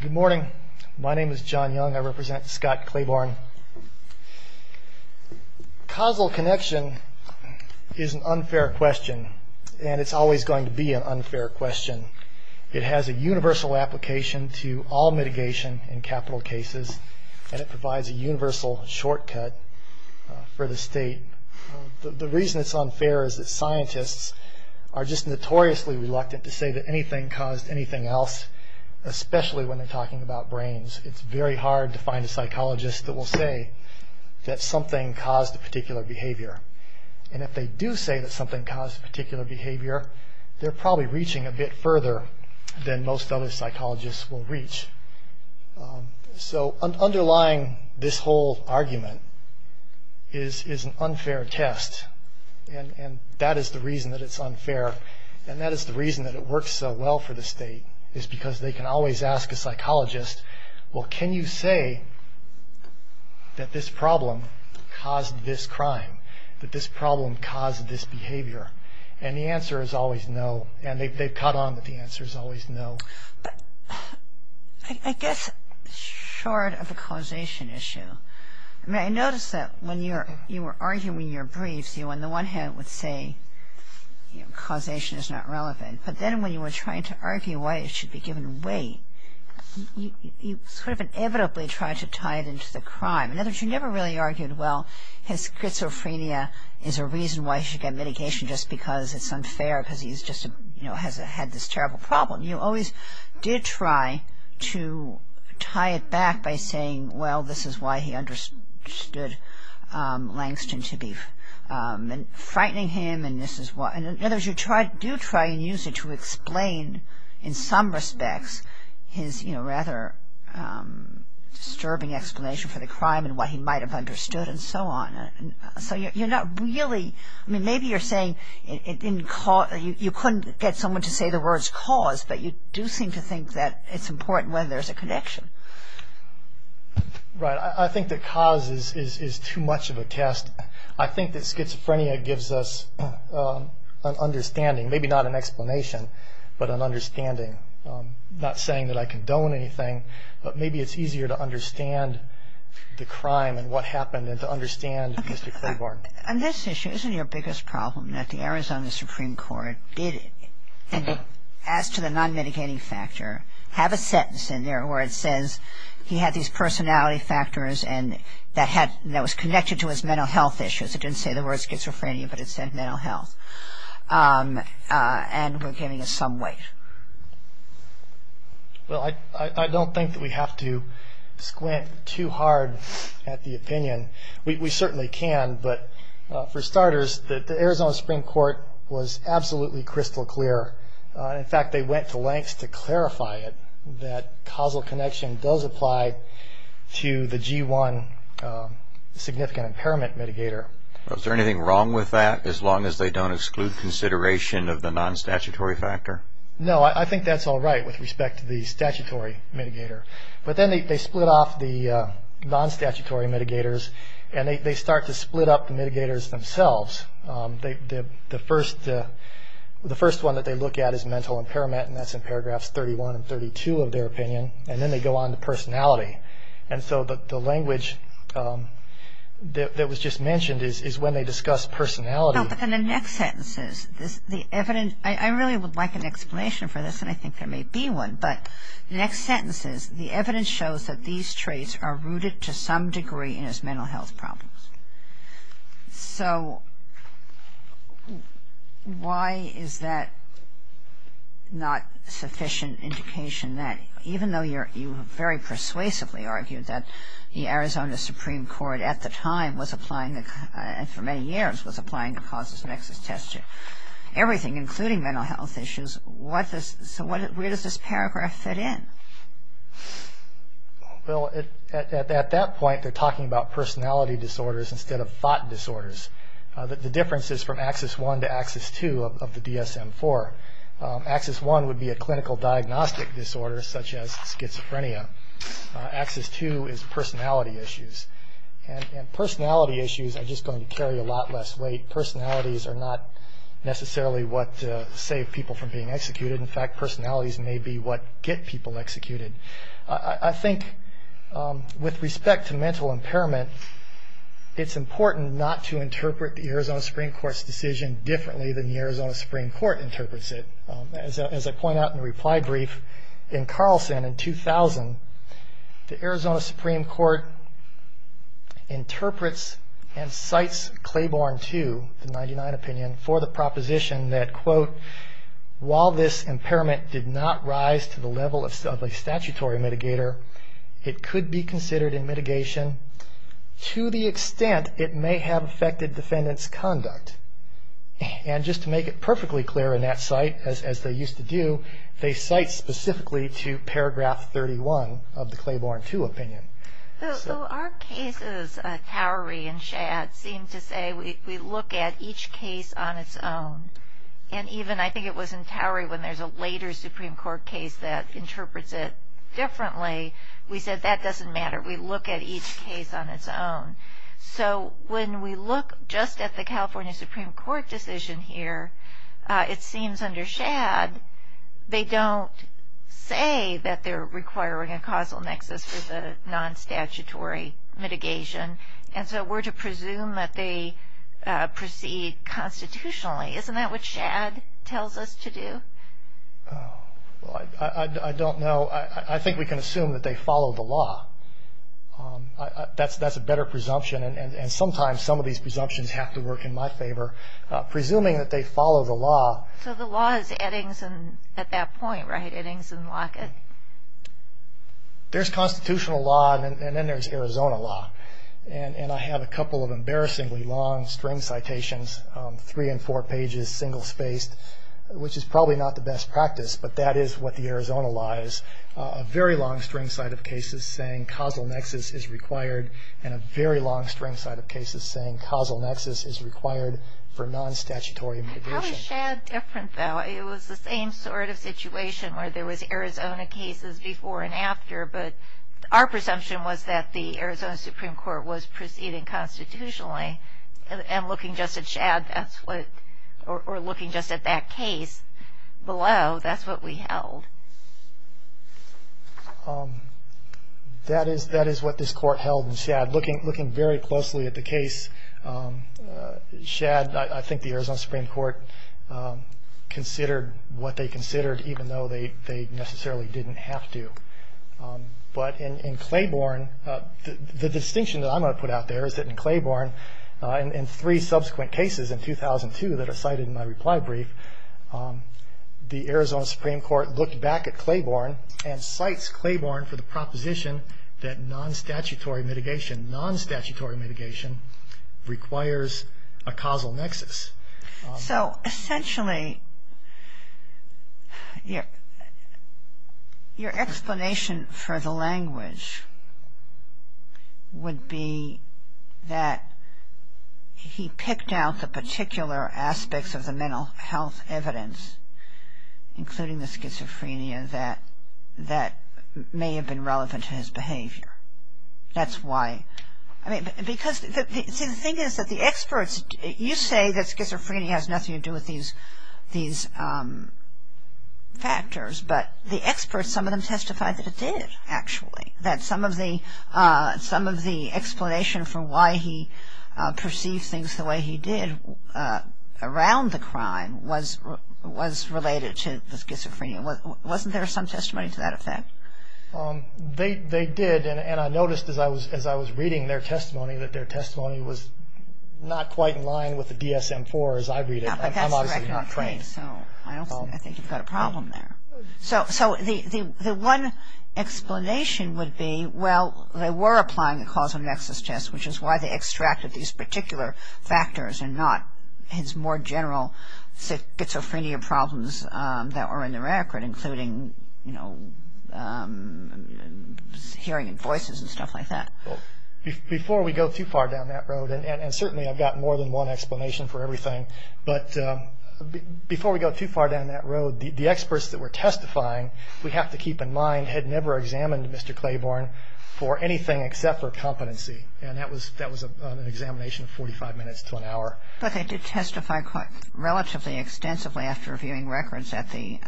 Good morning. My name is John Young. I represent Scott Clabourne. Causal connection is an unfair question, and it's always going to be an unfair question. It has a universal application to all mitigation in capital cases, and it provides a universal shortcut for the state. The reason it's unfair is that scientists are just notoriously reluctant to say that anything caused anything else, especially when they're talking about brains. It's very hard to find a psychologist that will say that something caused a particular behavior, and if they do say that something caused a particular behavior, they're probably reaching a bit further than most other psychologists will reach. So underlying this whole argument is an unfair test, and that is the reason that it's unfair, and that is the reason that it works so well for the state, is because they can always ask a psychologist, well, can you say that this problem caused this crime, that this problem caused this behavior? And the answer is always no, and they've caught on that the answer is always no. But I guess short of a causation issue, I noticed that when you were arguing your briefs, you on the one hand would say causation is not relevant, but then when you were trying to argue why it should be given away, you sort of inevitably tried to tie it into the crime. In other words, you never really argued, well, his schizophrenia is a reason why he should get mitigation just because it's unfair because he's just had this terrible problem. You always did try to tie it back by saying, well, this is why he understood Langston to be frightening him. In other words, you do try and use it to explain, in some respects, his rather disturbing explanation for the crime and what he might have understood and so on. So maybe you're saying you couldn't get someone to say the words cause, but you do seem to think that it's important when there's a connection. Right. I think that cause is too much of a test. I think that schizophrenia gives us an understanding, maybe not an explanation, but an understanding, not saying that I condone anything, but maybe it's easier to understand the crime and what happened and to understand Mr. Claiborne. On this issue, isn't your biggest problem that the Arizona Supreme Court did, as to the non-mitigating factor, have a sentence in there where it says he had these personality factors that was connected to his mental health issues? It didn't say the word schizophrenia, but it said mental health. And we're giving it some weight. Well, I don't think that we have to squint too hard at the opinion. We certainly can, but for starters, the Arizona Supreme Court was absolutely crystal clear. In fact, they went to lengths to clarify it, that causal connection does apply to the G1 significant impairment mitigator. Is there anything wrong with that, as long as they don't exclude consideration of the non-statutory factor? No, I think that's all right with respect to the statutory mitigator. But then they split off the non-statutory mitigators, and they start to split up the mitigators themselves. The first one that they look at is mental impairment, and that's in paragraphs 31 and 32 of their opinion, and then they go on to personality. And so the language that was just mentioned is when they discuss personality. No, but in the next sentences, the evidence, I really would like an explanation for this, and I think there may be one, but the next sentences, the evidence shows that these traits are rooted to some degree in his mental health problems. So why is that not sufficient indication that, even though you very persuasively argued that the Arizona Supreme Court at the time was applying, and for many years was applying, to causes of excess testing, everything, including mental health issues, so where does this paragraph fit in? Well, at that point, they're talking about personality disorders instead of thought disorders. The difference is from Axis I to Axis II of the DSM-IV. Axis I would be a clinical diagnostic disorder, such as schizophrenia. Axis II is personality issues. And personality issues are just going to carry a lot less weight. Personalities are not necessarily what save people from being executed. In fact, personalities may be what get people executed. I think with respect to mental impairment, it's important not to interpret the Arizona Supreme Court's decision differently than the Arizona Supreme Court interprets it. As I point out in the reply brief, in Carlson in 2000, the Arizona Supreme Court interprets and cites Claiborne II, the 1999 opinion, for the proposition that, quote, while this impairment did not rise to the level of a statutory mitigator, it could be considered in mitigation to the extent it may have affected defendant's conduct. And just to make it perfectly clear in that cite, as they used to do, they cite specifically to paragraph 31 of the Claiborne II opinion. So our cases, Towery and Shad, seem to say we look at each case on its own. And even, I think it was in Towery, when there's a later Supreme Court case that interprets it differently, we said that doesn't matter. We look at each case on its own. So when we look just at the California Supreme Court decision here, it seems under Shad, they don't say that they're requiring a causal nexus for the non-statutory mitigation. And so we're to presume that they proceed constitutionally. Isn't that what Shad tells us to do? I don't know. I think we can assume that they follow the law. That's a better presumption. And sometimes some of these presumptions have to work in my favor. Presuming that they follow the law. So the law is Eddings and at that point, right? Eddings and Lockett. There's constitutional law, and then there's Arizona law. And I have a couple of embarrassingly long string citations, three and four pages, single-spaced, which is probably not the best practice, but that is what the Arizona law is. A very long string cite of cases saying causal nexus is required and a very long string cite of cases saying causal nexus is required for non-statutory mitigation. How is Shad different, though? It was the same sort of situation where there was Arizona cases before and after, but our presumption was that the Arizona Supreme Court was proceeding constitutionally. And looking just at Shad, that's what, or looking just at that case below, that's what we held. That is what this Court held in Shad. Looking very closely at the case, Shad, I think the Arizona Supreme Court considered what they considered, even though they necessarily didn't have to. But in Claiborne, the distinction that I'm going to put out there is that in Claiborne, in three subsequent cases in 2002 that are cited in my reply brief, the Arizona Supreme Court looked back at Claiborne and cites Claiborne for the proposition that non-statutory mitigation, non-statutory mitigation requires a causal nexus. So, essentially, your explanation for the language would be that he picked out the particular aspects of the mental health evidence, including the schizophrenia, that may have been relevant to his behavior. That's why. I mean, because, see, the thing is that the experts, you say that schizophrenia has nothing to do with these factors, but the experts, some of them testified that it did, actually, that some of the explanation for why he perceived things the way he did around the crime was related to the schizophrenia. Wasn't there some testimony to that effect? They did, and I noticed as I was reading their testimony that their testimony was not quite in line with the DSM-IV as I read it. I'm obviously not trained. I don't think you've got a problem there. So, the one explanation would be, well, they were applying a causal nexus test, which is why they extracted these particular factors and not his more general schizophrenia problems that were in the record, including hearing voices and stuff like that. Before we go too far down that road, and certainly I've got more than one explanation for everything, but before we go too far down that road, the experts that were testifying, we have to keep in mind, had never examined Mr. Claiborne for anything except for competency, and that was an examination of 45 minutes to an hour. But they did testify quite relatively extensively after reviewing records at the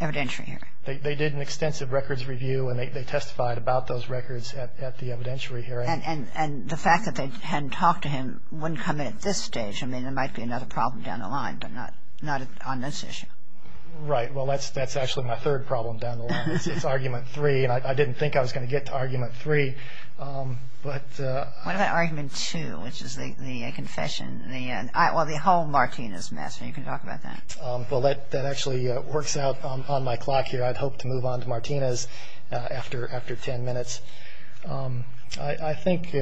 evidentiary hearing. They did an extensive records review, and they testified about those records at the evidentiary hearing. And the fact that they hadn't talked to him wouldn't come in at this stage. I mean, there might be another problem down the line, but not on this issue. Right. Well, that's actually my third problem down the line. It's Argument 3, and I didn't think I was going to get to Argument 3. What about Argument 2, which is the confession? Well, the whole Martinez mess, and you can talk about that. Well, that actually works out on my clock here. I'd hope to move on to Martinez after 10 minutes. I think,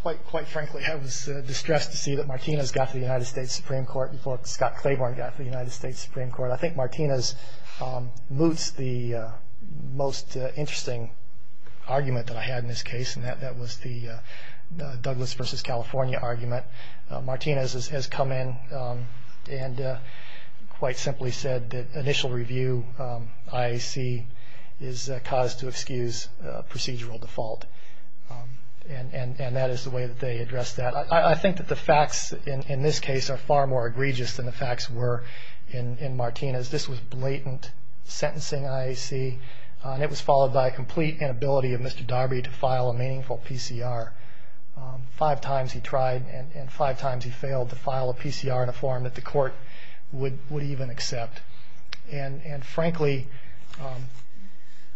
quite frankly, I was distressed to see that Martinez got to the United States Supreme Court before Scott Claiborne got to the United States Supreme Court. I think Martinez moots the most interesting argument that I had in this case, and that was the Douglas v. California argument. Martinez has come in and quite simply said that initial review I see is cause to excuse procedural default. And that is the way that they addressed that. I think that the facts in this case are far more egregious than the facts were in Martinez. This was blatant sentencing IAC, and it was followed by a complete inability of Mr. Darby to file a meaningful PCR. Five times he tried and five times he failed to file a PCR in a form that the court would even accept. And frankly,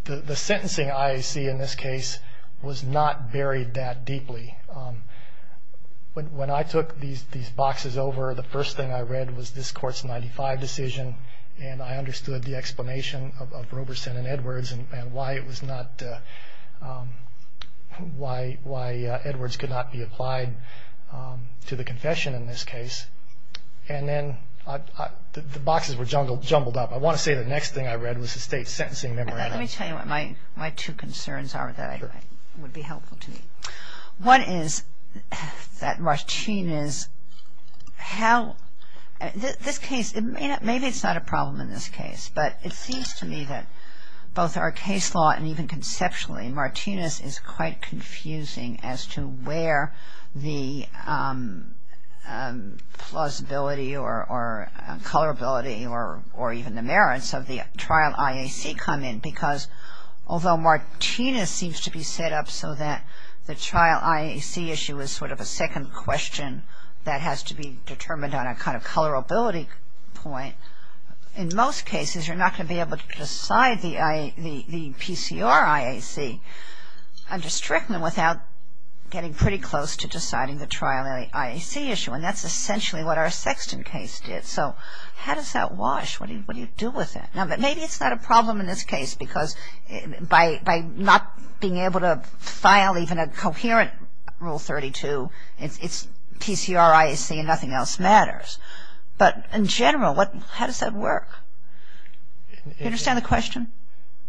the sentencing IAC in this case was not buried that deeply. When I took these boxes over, the first thing I read was this court's 95 decision, and I understood the explanation of Roberson and Edwards and why Edwards could not be applied to the confession in this case. And then the boxes were jumbled up. I want to say the next thing I read was the state's sentencing memorandum. Let me tell you what my two concerns are that would be helpful to me. One is that Martinez, how, this case, maybe it's not a problem in this case, but it seems to me that both our case law and even conceptually, Martinez is quite confusing as to where the plausibility or colorability or even the merits of the trial IAC come in. Because although Martinez seems to be set up so that the trial IAC issue is sort of a second question that has to be determined on a kind of colorability point, in most cases you're not going to be able to decide the PCR IAC and restrict them without getting pretty close to deciding the trial IAC issue. And that's essentially what our Sexton case did. So how does that wash? What do you do with that? Now, maybe it's not a problem in this case because by not being able to file even a coherent Rule 32, it's PCR IAC and nothing else matters. But in general, how does that work? Do you understand the question?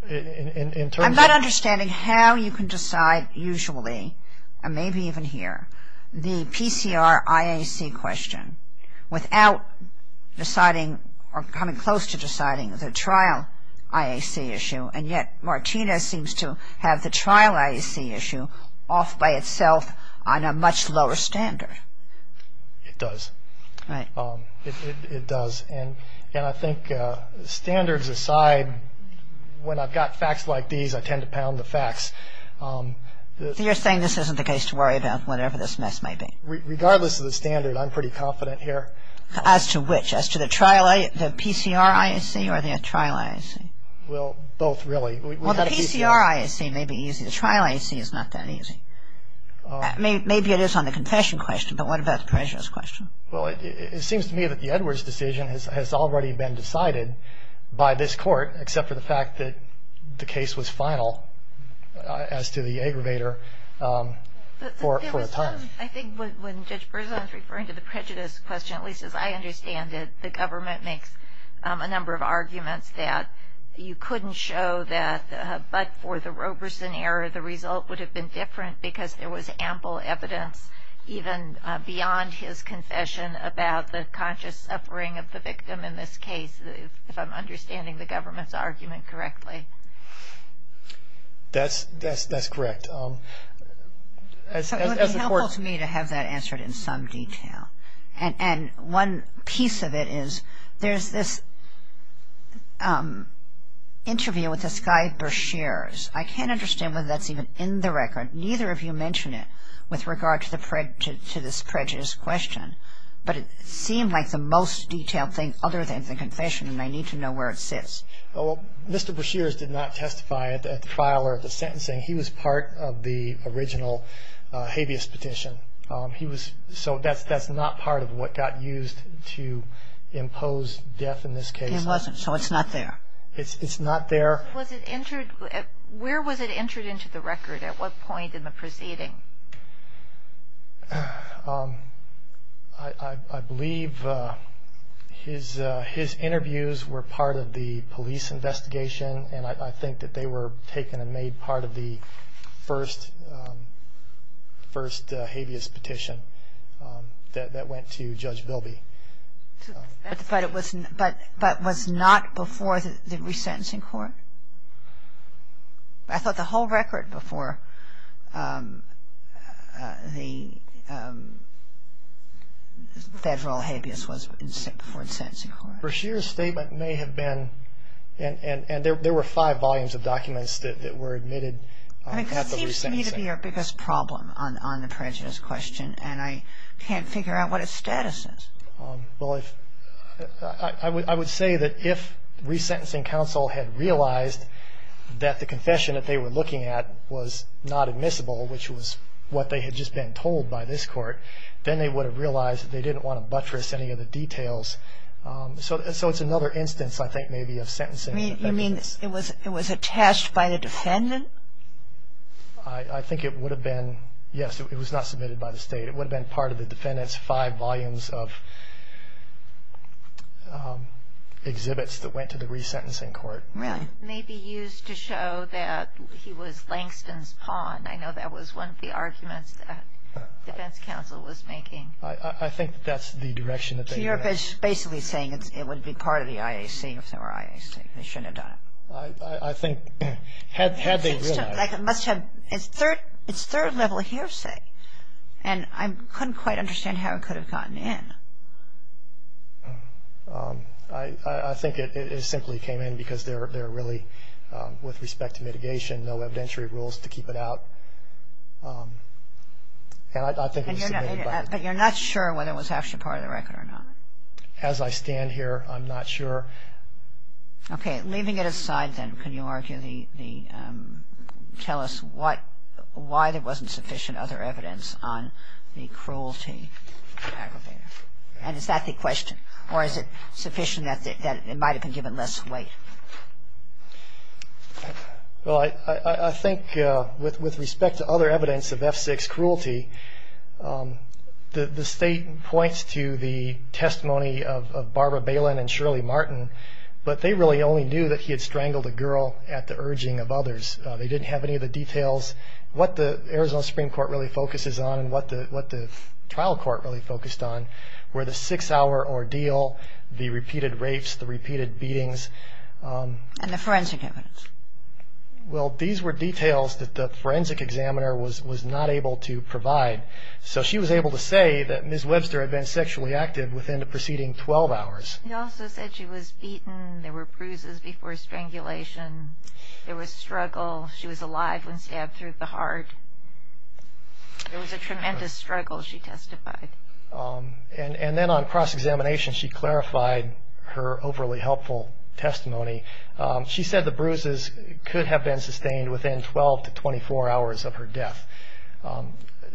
I'm not understanding how you can decide usually, and maybe even here, the PCR IAC question without deciding or coming close to deciding the trial IAC issue, and yet Martinez seems to have the trial IAC issue off by itself on a much lower standard. It does. Right. It does. And I think standards aside, when I've got facts like these, I tend to pound the facts. So you're saying this isn't the case to worry about whatever this mess may be? Regardless of the standard, I'm pretty confident here. As to which? As to the trial IAC, the PCR IAC, or the trial IAC? Well, both, really. Well, the PCR IAC may be easy. The trial IAC is not that easy. Maybe it is on the confession question, but what about the prejudice question? Well, it seems to me that the Edwards decision has already been decided by this court, except for the fact that the case was final as to the aggravator for a time. I think when Judge Berzon is referring to the prejudice question, at least as I understand it, the government makes a number of arguments that you couldn't show that, but for the Roberson error, the result would have been different because there was ample evidence even beyond his confession about the conscious suffering of the victim in this case, if I'm understanding the government's argument correctly. That's correct. It would be helpful to me to have that answered in some detail. And one piece of it is there's this interview with this guy, Breshears. I can't understand whether that's even in the record. Neither of you mention it with regard to this prejudice question, but it seemed like the most detailed thing other than the confession, and I need to know where it sits. Well, Mr. Breshears did not testify at the trial or at the sentencing. He was part of the original habeas petition. So that's not part of what got used to impose death in this case. It wasn't, so it's not there. It's not there. Where was it entered into the record? At what point in the proceeding? I believe his interviews were part of the police investigation, and I think that they were taken and made part of the first habeas petition that went to Judge Bilby. But was not before the resentencing court? I thought the whole record before the federal habeas was before the sentencing court. Breshears' statement may have been, and there were five volumes of documents that were admitted at the resentencing. It seems to me to be our biggest problem on the prejudice question, and I can't figure out what its status is. Well, I would say that if resentencing counsel had realized that the confession that they were looking at was not admissible, which was what they had just been told by this court, then they would have realized that they didn't want to buttress any of the details. So it's another instance, I think, maybe, of sentencing. You mean it was attached by the defendant? I think it would have been. Yes, it was not submitted by the state. It would have been part of the defendant's five volumes of exhibits that went to the resentencing court. May be used to show that he was Langston's pawn. I know that was one of the arguments that defense counsel was making. I think that's the direction that they were going. So Europe is basically saying it would be part of the IAC if there were IAC. They shouldn't have done it. I think had they realized. It's third level hearsay, and I couldn't quite understand how it could have gotten in. I think it simply came in because they're really, with respect to mitigation, no evidentiary rules to keep it out. And I think it was submitted by. But you're not sure whether it was actually part of the record or not? As I stand here, I'm not sure. Okay. Leaving it aside, then, can you argue the... And is that the question? Or is it sufficient that it might have been given less weight? Well, I think with respect to other evidence of F6 cruelty, the state points to the testimony of Barbara Balin and Shirley Martin, but they really only knew that he had strangled a girl at the urging of others. They didn't have any of the details. What the Arizona Supreme Court really focuses on and what the trial court really focused on were the six-hour ordeal, the repeated rapes, the repeated beatings. And the forensic evidence. Well, these were details that the forensic examiner was not able to provide. So she was able to say that Ms. Webster had been sexually active within the preceding 12 hours. He also said she was beaten. There were bruises before strangulation. There was struggle. She was alive when stabbed through the heart. There was a tremendous struggle, she testified. And then on cross-examination, she clarified her overly helpful testimony. She said the bruises could have been sustained within 12 to 24 hours of her death.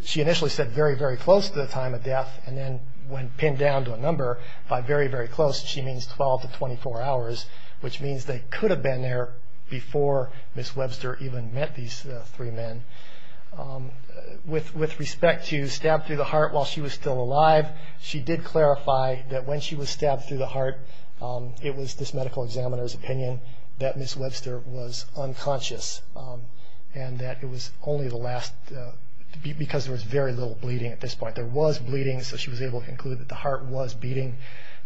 She initially said very, very close to the time of death, and then when pinned down to a number by very, very close, she means 12 to 24 hours, which means they could have been there before Ms. Webster even met these three men. With respect to stabbed through the heart while she was still alive, she did clarify that when she was stabbed through the heart, it was this medical examiner's opinion that Ms. Webster was unconscious and that it was only the last, because there was very little bleeding at this point. There was bleeding, so she was able to conclude that the heart was beating,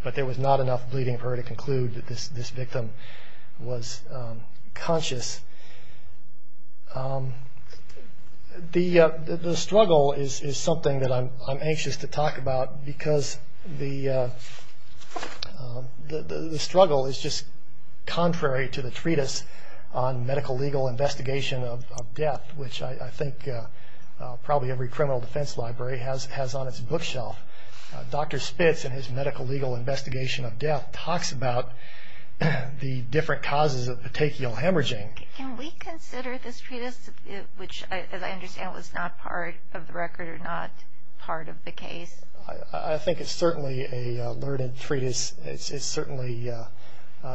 but there was not enough bleeding for her to conclude that this victim was conscious. The struggle is something that I'm anxious to talk about because the struggle is just contrary to the treatise on medical legal investigation of death, which I think probably every criminal defense library has on its bookshelf. Dr. Spitz, in his medical legal investigation of death, talks about the different causes of patechial hemorrhaging. Can we consider this treatise, which as I understand was not part of the record or not part of the case? I think it's certainly a learned treatise. It's certainly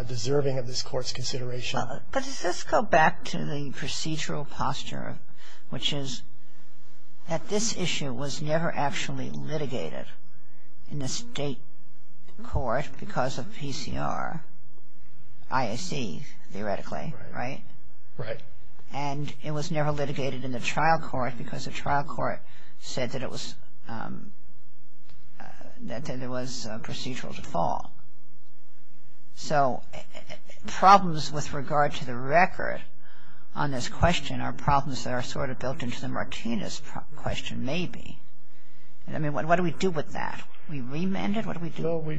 deserving of this court's consideration. But does this go back to the procedural posture, which is that this issue was never actually litigated in the state court because of PCR, IAC theoretically, right? Right. And it was never litigated in the trial court because the trial court said that there was a procedural default. So problems with regard to the record on this question are problems that are sort of built into the Martinez question maybe. I mean, what do we do with that? We remand it? What do we do?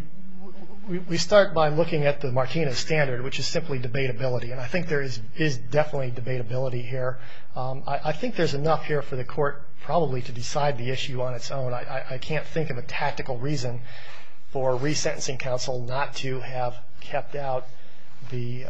We start by looking at the Martinez standard, which is simply debatability. And I think there is definitely debatability here. I think there's enough here for the court probably to decide the issue on its own. But I can't think of a tactical reason for a resentencing counsel not to have kept out the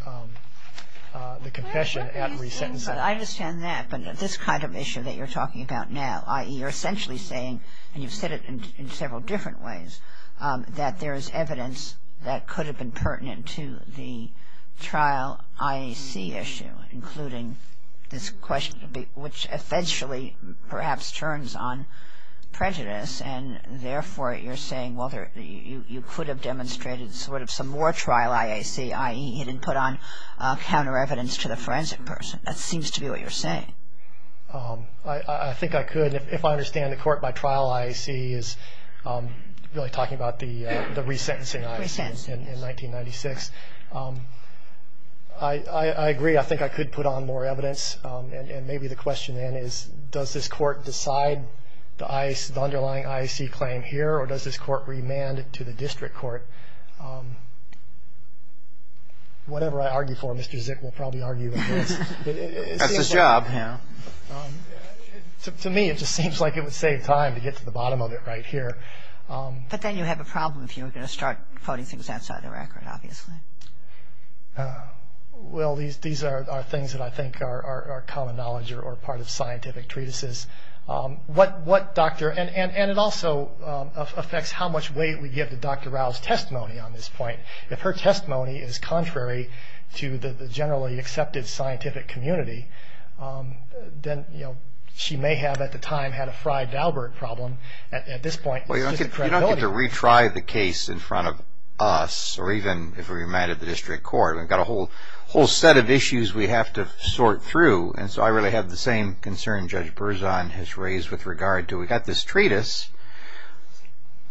confession at resentencing. I understand that. But this kind of issue that you're talking about now, i.e., you're essentially saying, and you've said it in several different ways, that there is evidence that could have been pertinent to the trial IAC issue, including this question, which essentially perhaps turns on prejudice. And therefore, you're saying, well, you could have demonstrated sort of some more trial IAC, i.e., you didn't put on counter evidence to the forensic person. That seems to be what you're saying. I think I could. If I understand the court, my trial IAC is really talking about the resentencing IAC in 1996. I agree. I think I could put on more evidence. And maybe the question then is, does this court decide the underlying IAC claim here, or does this court remand it to the district court? Whatever I argue for, Mr. Zick will probably argue against. That's his job, you know. To me, it just seems like it would save time to get to the bottom of it right here. But then you have a problem if you were going to start putting things outside the record, obviously. Well, these are things that I think are common knowledge or part of scientific treatises. And it also affects how much weight we give to Dr. Rao's testimony on this point. If her testimony is contrary to the generally accepted scientific community, then she may have at the time had a Frey-Daubert problem. At this point, it's just credibility. You don't get to retry the case in front of us or even if we remand it to the district court. We've got a whole set of issues we have to sort through. And so I really have the same concern Judge Berzon has raised with regard to we've got this treatise,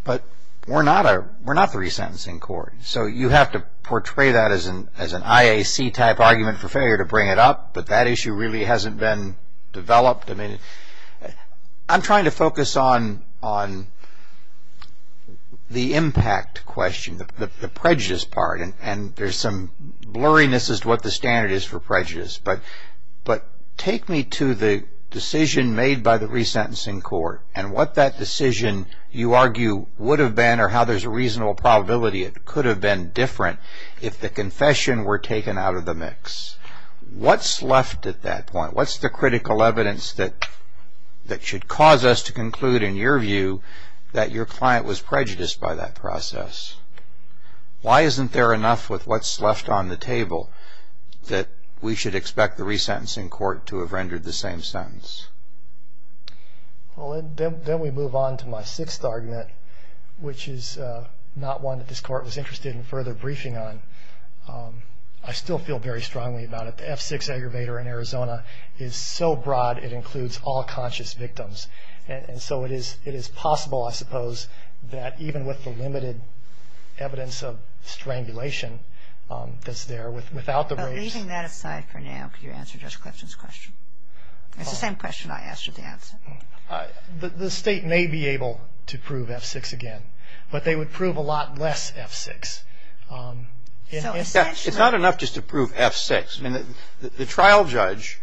but we're not the resentencing court. So you have to portray that as an IAC-type argument for failure to bring it up. But that issue really hasn't been developed. I'm trying to focus on the impact question, the prejudice part. And there's some blurriness as to what the standard is for prejudice. But take me to the decision made by the resentencing court and what that decision, you argue, would have been or how there's a reasonable probability it could have been different if the confession were taken out of the mix. What's left at that point? What's the critical evidence that should cause us to conclude, in your view, that your client was prejudiced by that process? Why isn't there enough with what's left on the table that we should expect the resentencing court to have rendered the same sentence? Well, then we move on to my sixth argument, which is not one that this court was interested in further briefing on. I still feel very strongly about it. The F6 aggravator in Arizona is so broad it includes all conscious victims. And so it is possible, I suppose, that even with the limited evidence of strangulation that's there, without the race... But leaving that aside for now, could you answer Judge Clifton's question? It's the same question I asked you to answer. The state may be able to prove F6 again, but they would prove a lot less F6. It's not enough just to prove F6. I mean, the trial judge,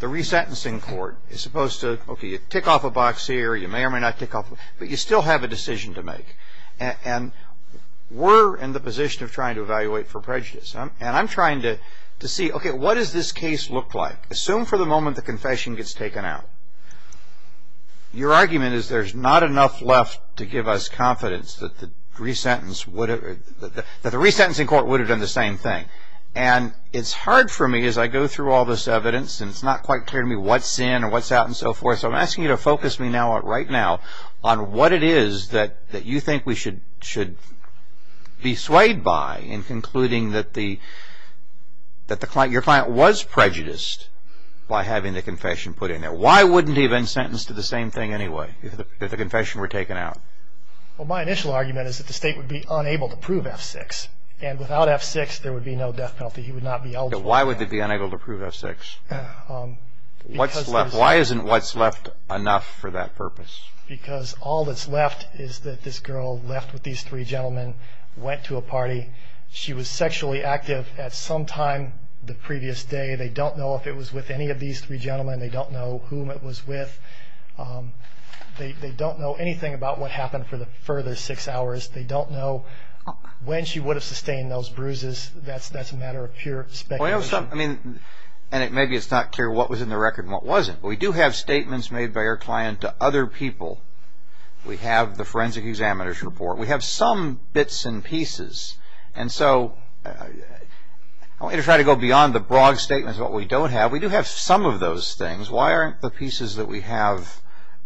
the resentencing court, is supposed to, okay, you tick off a box here, you may or may not tick off... But you still have a decision to make. And we're in the position of trying to evaluate for prejudice. And I'm trying to see, okay, what does this case look like? Assume for the moment the confession gets taken out. Your argument is there's not enough left to give us confidence that the resentencing court would have done the same thing. And it's hard for me as I go through all this evidence, and it's not quite clear to me what's in and what's out and so forth, so I'm asking you to focus me right now on what it is that you think we should be swayed by in concluding that your client was prejudiced by having the confession put in there. Why wouldn't he have been sentenced to the same thing anyway if the confession were taken out? Well, my initial argument is that the state would be unable to prove F6, and without F6 there would be no death penalty. He would not be eligible. Why would they be unable to prove F6? Why isn't what's left enough for that purpose? Because all that's left is that this girl left with these three gentlemen, went to a party. She was sexually active at some time the previous day. They don't know if it was with any of these three gentlemen. They don't know whom it was with. They don't know anything about what happened for the further six hours. They don't know when she would have sustained those bruises. That's a matter of pure speculation. Maybe it's not clear what was in the record and what wasn't, but we do have statements made by our client to other people. We have the forensic examiner's report. We have some bits and pieces, and so I want you to try to go beyond the broad statements of what we don't have. We do have some of those things. Why aren't the pieces that we have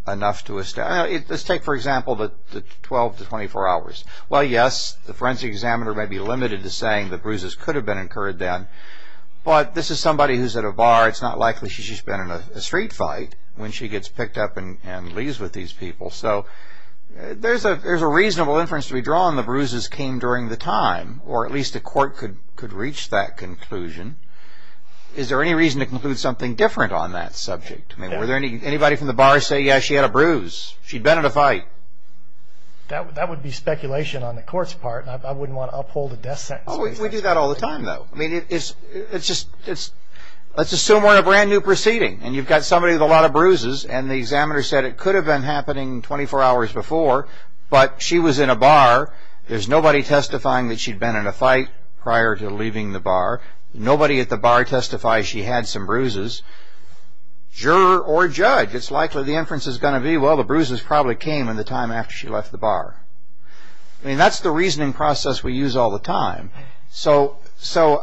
enough to establish? Let's take, for example, the 12 to 24 hours. Well, yes, the forensic examiner may be limited to saying the bruises could have been incurred then, but this is somebody who's at a bar. It's not likely she's just been in a street fight when she gets picked up and leaves with these people. So there's a reasonable inference to be drawn. The bruises came during the time, or at least a court could reach that conclusion. Is there any reason to conclude something different on that subject? Would anybody from the bar say, yes, she had a bruise, she'd been in a fight? That would be speculation on the court's part. I wouldn't want to uphold a death sentence. We do that all the time, though. I mean, let's assume we're in a brand-new proceeding, and you've got somebody with a lot of bruises, and the examiner said it could have been happening 24 hours before, but she was in a bar. Nobody at the bar testifies she had some bruises. Juror or judge, it's likely the inference is going to be, well, the bruises probably came in the time after she left the bar. I mean, that's the reasoning process we use all the time. So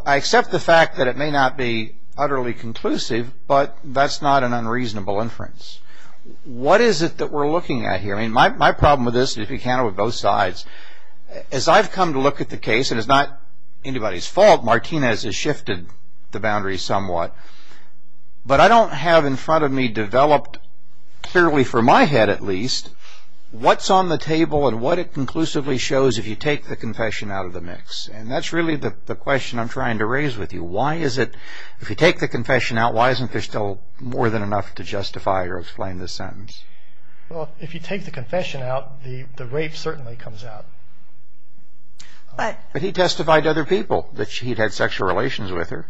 I accept the fact that it may not be utterly conclusive, but that's not an unreasonable inference. What is it that we're looking at here? I mean, my problem with this, and if you count it with both sides, is I've come to look at the case, and it's not anybody's fault. Martinez has shifted the boundaries somewhat. But I don't have in front of me developed, clearly for my head at least, what's on the table and what it conclusively shows if you take the confession out of the mix. And that's really the question I'm trying to raise with you. Why is it if you take the confession out, why isn't there still more than enough to justify or explain this sentence? Well, if you take the confession out, the rape certainly comes out. But he testified to other people that he'd had sexual relations with her.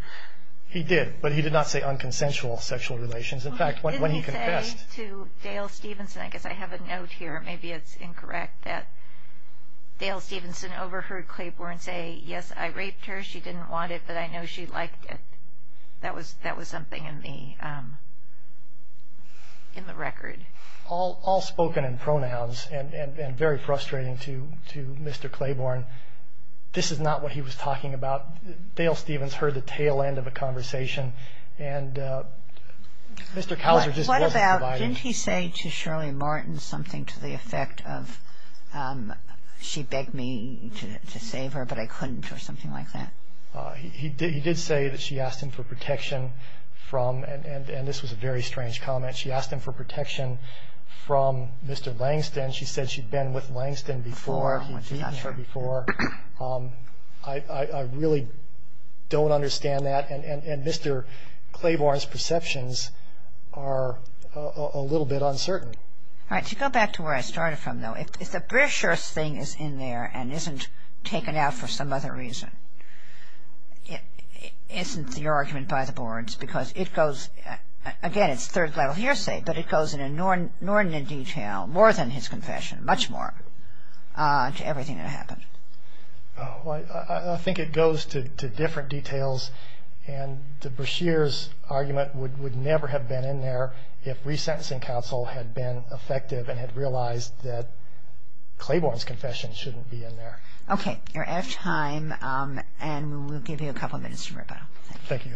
He did, but he did not say unconsensual sexual relations. In fact, when he confessed. He didn't say to Dale Stevenson, I guess I have a note here, maybe it's incorrect, that Dale Stevenson overheard Claiborne say, yes, I raped her, she didn't want it, but I know she liked it. That was something in the record. All spoken in pronouns and very frustrating to Mr. Claiborne. This is not what he was talking about. Dale Stevens heard the tail end of a conversation and Mr. Couser just wasn't providing. What about, didn't he say to Shirley Martin something to the effect of she begged me to save her, but I couldn't or something like that? He did say that she asked him for protection from, and this was a very strange comment, she asked him for protection from Mr. Langston. She said she'd been with Langston before. I really don't understand that. And Mr. Claiborne's perceptions are a little bit uncertain. All right, to go back to where I started from, though, if the Brashear's thing is in there and isn't taken out for some other reason, isn't your argument by the boards because it goes, again, it's third-level hearsay, but it goes in an inordinate detail, more than his confession, much more, to everything that happened. I think it goes to different details, and the Brashear's argument would never have been in there if resentencing counsel had been effective and had realized that Claiborne's confession shouldn't be in there. Okay, you're out of time, and we'll give you a couple of minutes to rebuttal. Thank you.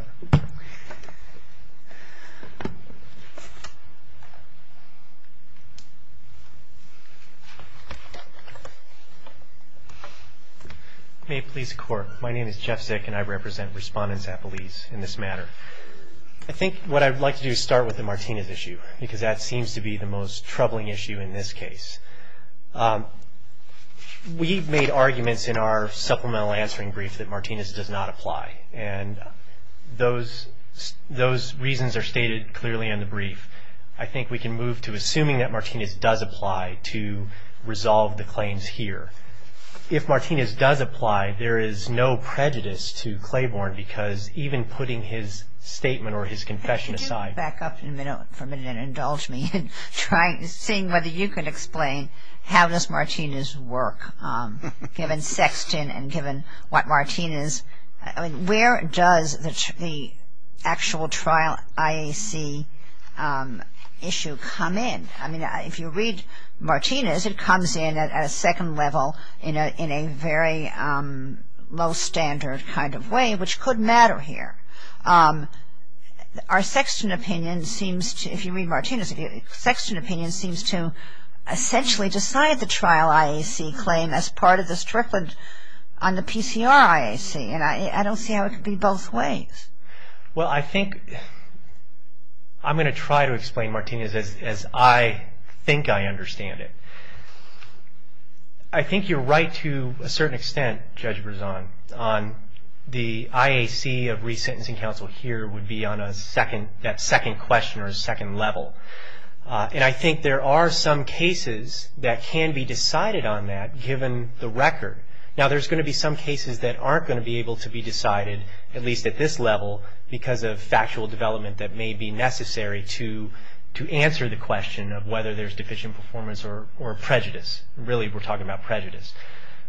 May it please the Court, my name is Jeff Zick, and I represent respondents at Belize in this matter. I think what I'd like to do is start with the Martinez issue, because that seems to be the most troubling issue in this case. We've made arguments in our supplemental answering brief that Martinez does not apply, and those reasons are stated clearly in the brief. I think we can move to assuming that Martinez does apply to resolve the claims here. If Martinez does apply, there is no prejudice to Claiborne, because even putting his statement or his confession aside Could you back up for a minute and indulge me in seeing whether you can explain how does Martinez work, given Sexton and given what Martinez, I mean, where does the actual trial IAC issue come in? I mean, if you read Martinez, it comes in at a second level in a very low standard kind of way, which could matter here. Our Sexton opinion seems to, if you read Martinez, Sexton opinion seems to essentially decide the trial IAC claim as part of the Strickland on the PCR IAC, and I don't see how it could be both ways. Well, I think I'm going to try to explain Martinez as I think I understand it. I think you're right to a certain extent, Judge Berzon, on the IAC of resentencing counsel here would be on a second, that second question or second level, and I think there are some cases that can be decided on that, given the record. Now, there's going to be some cases that aren't going to be able to be decided, at least at this level, because of factual development that may be necessary to answer the question of whether there's deficient performance or prejudice. Really, we're talking about prejudice.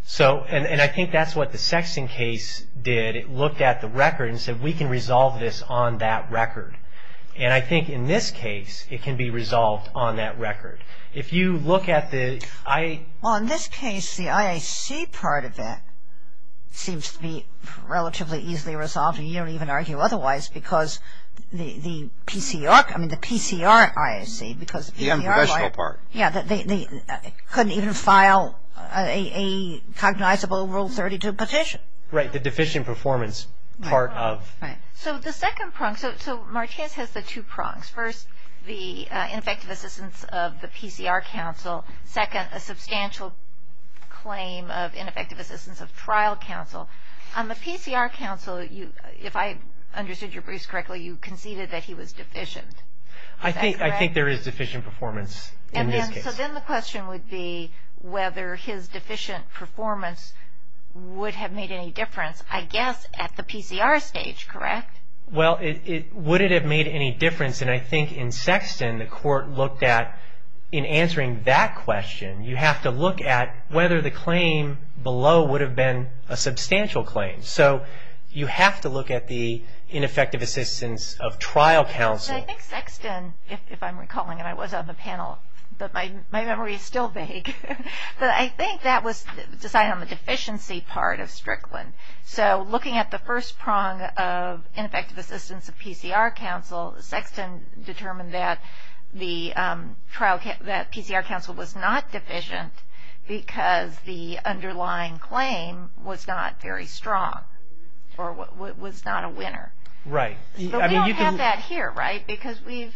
So, and I think that's what the Sexton case did. It looked at the record and said, we can resolve this on that record. And I think in this case, it can be resolved on that record. If you look at the IAC. Well, in this case, the IAC part of it seems to be relatively easily resolved, and you don't even argue otherwise because the PCR, I mean the PCR IAC, because the PCR. The unprofessional part. Yeah, they couldn't even file a cognizable Rule 32 petition. Right, the deficient performance part of. Right, right. So, the second prong. So, Martinez has the two prongs. First, the ineffective assistance of the PCR counsel. Second, a substantial claim of ineffective assistance of trial counsel. On the PCR counsel, if I understood your briefs correctly, you conceded that he was deficient. Is that correct? I think there is deficient performance in this case. So, then the question would be whether his deficient performance would have made any difference, I guess, at the PCR stage, correct? Well, would it have made any difference? And I think in Sexton, the court looked at, in answering that question, you have to look at whether the claim below would have been a substantial claim. So, you have to look at the ineffective assistance of trial counsel. I think Sexton, if I'm recalling, and I was on the panel, but my memory is still vague, but I think that was decided on the deficiency part of Strickland. So, looking at the first prong of ineffective assistance of PCR counsel, Sexton determined that the trial, that PCR counsel was not deficient because the underlying claim was not very strong or was not a winner. Right. But we don't have that here, right? Because we've...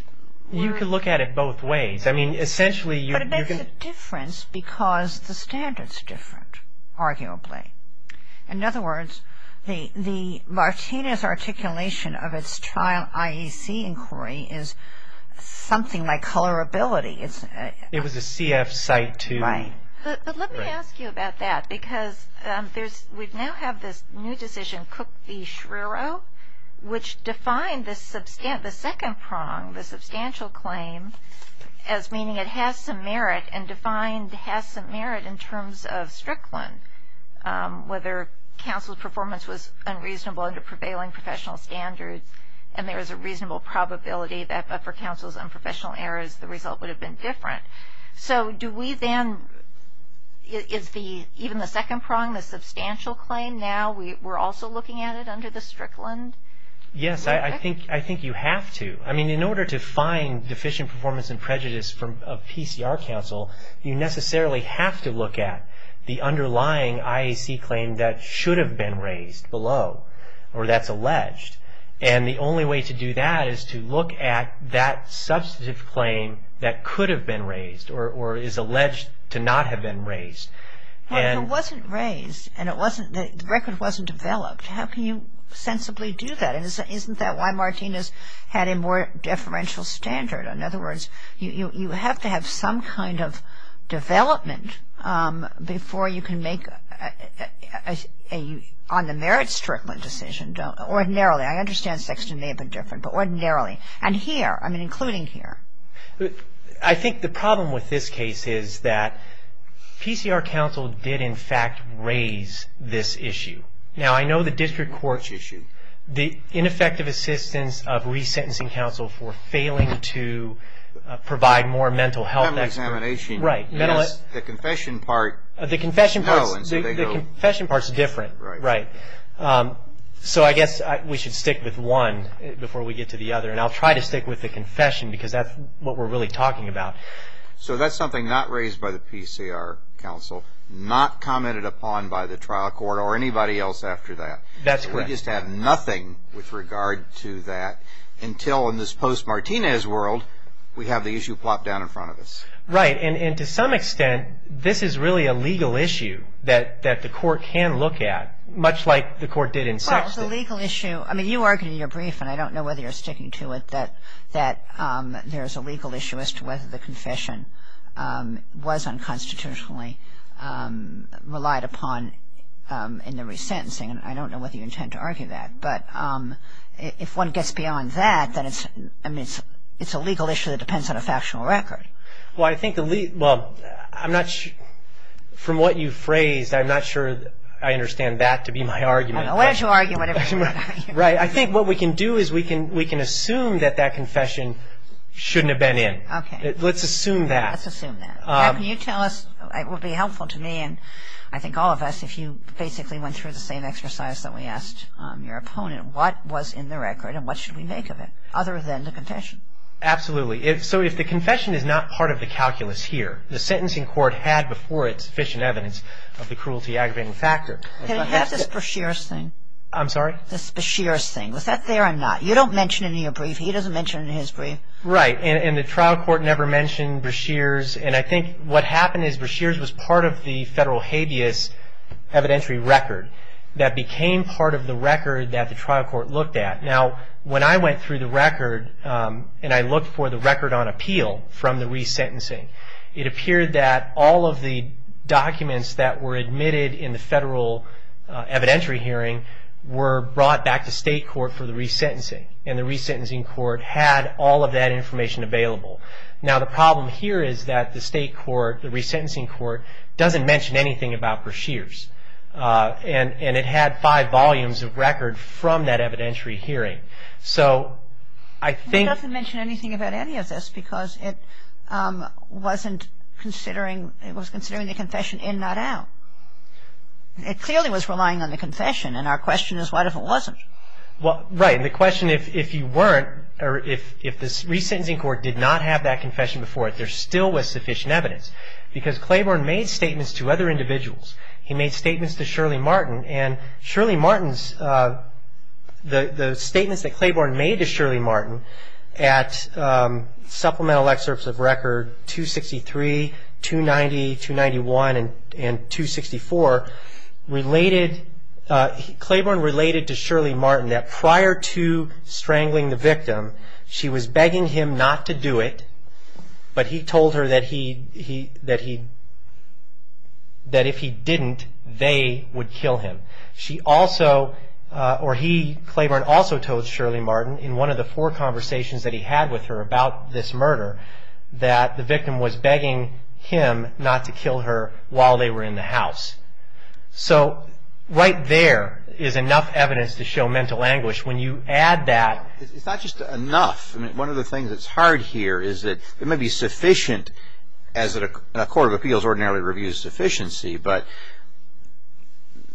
You can look at it both ways. I mean, essentially... But it makes a difference because the standard's different, arguably. In other words, the Martinez articulation of its trial IEC inquiry is something like colorability. It's... It was a CF site to... Right. But let me ask you about that because we now have this new decision, Cook v. Schrierow, which defined the second prong, the substantial claim, as meaning it has some merit and defined has some merit in terms of Strickland, whether counsel's performance was unreasonable under prevailing professional standards and there is a reasonable probability that for counsel's unprofessional errors, the result would have been different. So, do we then... Is even the second prong, the substantial claim, now we're also looking at it under the Strickland? Yes, I think you have to. I mean, in order to find deficient performance and prejudice of PCR counsel, you necessarily have to look at the underlying IEC claim that should have been raised below or that's alleged. And the only way to do that is to look at that substantive claim that could have been raised or is alleged to not have been raised. If it wasn't raised and the record wasn't developed, how can you sensibly do that? And isn't that why Martinez had a more deferential standard? In other words, you have to have some kind of development before you can make on the merit Strickland decision ordinarily. I understand Sexton may have been different, but ordinarily. And here, I mean, including here. I think the problem with this case is that PCR counsel did, in fact, raise this issue. Now, I know the district court, the ineffective assistance of resentencing counsel for failing to provide more mental health. Mental examination. Right. The confession part. The confession part is different. Right. So I guess we should stick with one before we get to the other. And I'll try to stick with the confession because that's what we're really talking about. So that's something not raised by the PCR counsel, not commented upon by the trial court or anybody else after that. That's correct. We just have nothing with regard to that until in this post-Martinez world, we have the issue plopped down in front of us. Right. And to some extent, this is really a legal issue that the court can look at, much like the court did in Sexton. Well, it's a legal issue. I mean, you argued in your brief, and I don't know whether you're sticking to it, that there's a legal issue as to whether the confession was unconstitutionally relied upon in the resentencing. And I don't know whether you intend to argue that. But if one gets beyond that, then it's a legal issue that depends on a factional record. Well, I think the legal – well, I'm not – from what you phrased, I'm not sure I understand that to be my argument. Why don't you argue whatever you want to argue. Right. I think what we can do is we can assume that that confession shouldn't have been in. Okay. Let's assume that. Let's assume that. Can you tell us – it would be helpful to me, and I think all of us, if you basically went through the same exercise that we asked your opponent, what was in the record and what should we make of it other than the confession? Absolutely. So if the confession is not part of the calculus here, the sentencing court had before it sufficient evidence of the cruelty aggravating factor. Can I have this Bashir's thing? I'm sorry? This Bashir's thing. Was that there or not? You don't mention it in your brief. He doesn't mention it in his brief. Right. And the trial court never mentioned Bashir's. And I think what happened is Bashir's was part of the federal habeas evidentiary record that became part of the record that the trial court looked at. Now, when I went through the record and I looked for the record on appeal from the resentencing, it appeared that all of the documents that were admitted in the federal evidentiary hearing were brought back to state court for the resentencing. And the resentencing court had all of that information available. Now, the problem here is that the state court, the resentencing court, doesn't mention anything about Bashir's. And it had five volumes of record from that evidentiary hearing. So I think... It doesn't mention anything about any of this because it wasn't considering, it was considering the confession in, not out. It clearly was relying on the confession, and our question is what if it wasn't? Well, right. And the question, if you weren't, or if the resentencing court did not have that confession before it, there still was sufficient evidence. Because Claiborne made statements to other individuals. He made statements to Shirley Martin. And Shirley Martin's, the statements that Claiborne made to Shirley Martin at supplemental excerpts of record 263, 290, 291, and 264 related, Claiborne related to Shirley Martin that prior to strangling the victim, she was begging him not to do it, but he told her that if he didn't, they would kill him. She also, or he, Claiborne also told Shirley Martin in one of the four conversations that he had with her about this murder, that the victim was begging him not to kill her while they were in the house. So right there is enough evidence to show mental anguish. When you add that. It's not just enough. One of the things that's hard here is that it may be sufficient as a court of appeals ordinarily reviews sufficiency, but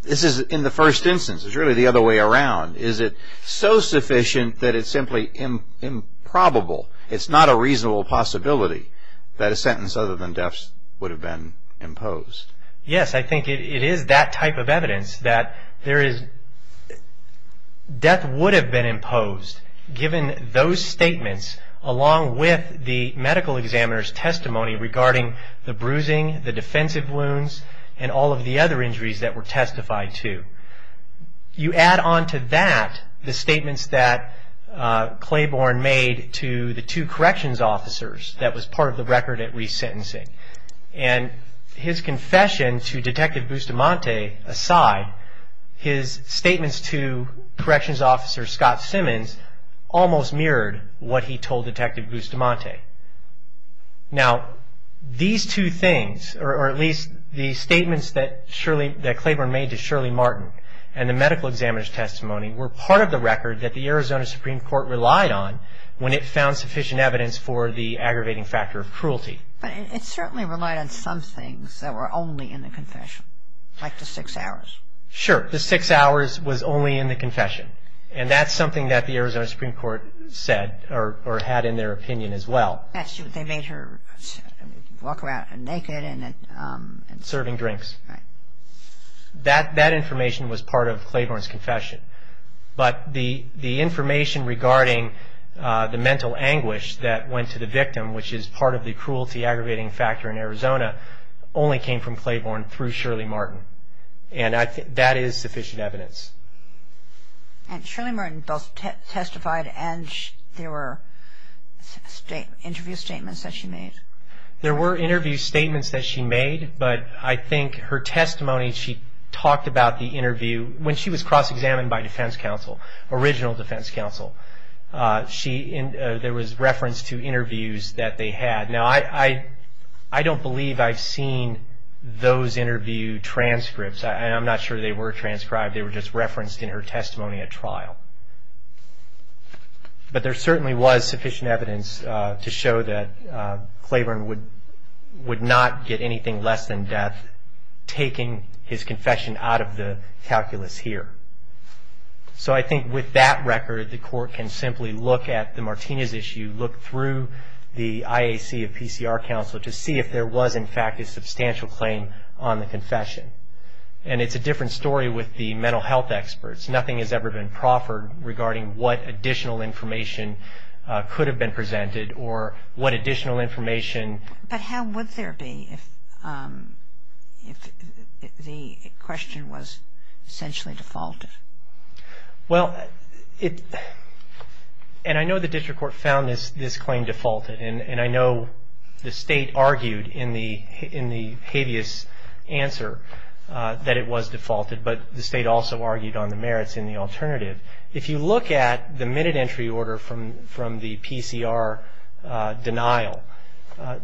this is in the first instance. It's really the other way around. Is it so sufficient that it's simply improbable? It's not a reasonable possibility that a sentence other than death would have been imposed. Yes, I think it is that type of evidence that there is. Death would have been imposed given those statements along with the medical examiner's testimony regarding the bruising, the defensive wounds, and all of the other injuries that were testified to. You add on to that the statements that Claiborne made to the two corrections officers that was part of the record at resentencing and his confession to Detective Bustamante aside, his statements to corrections officer Scott Simmons almost mirrored what he told Detective Bustamante. Now these two things or at least the statements that Claiborne made to Shirley Martin and the medical examiner's testimony were part of the record that the Arizona Supreme Court relied on when it found sufficient evidence for the aggravating factor of cruelty. But it certainly relied on some things that were only in the confession, like the six hours. Sure. The six hours was only in the confession. And that's something that the Arizona Supreme Court said or had in their opinion as well. They made her walk around naked. Serving drinks. That information was part of Claiborne's confession. But the information regarding the mental anguish that went to the victim, which is part of the cruelty aggravating factor in Arizona, only came from Claiborne through Shirley Martin. And that is sufficient evidence. And Shirley Martin both testified and there were interview statements that she made. There were interview statements that she made. When she was cross-examined by defense counsel, original defense counsel, there was reference to interviews that they had. Now I don't believe I've seen those interview transcripts. I'm not sure they were transcribed. They were just referenced in her testimony at trial. But there certainly was sufficient evidence to show that Claiborne would not get anything less than death taking his confession out of the calculus here. So I think with that record, the court can simply look at the Martinez issue, look through the IAC of PCR counsel to see if there was in fact a substantial claim on the confession. And it's a different story with the mental health experts. Nothing has ever been proffered regarding what additional information could have been presented or what additional information. But how would there be if the question was essentially defaulted? Well, and I know the district court found this claim defaulted, and I know the State argued in the habeas answer that it was defaulted, but the State also argued on the merits in the alternative. If you look at the minute entry order from the PCR denial,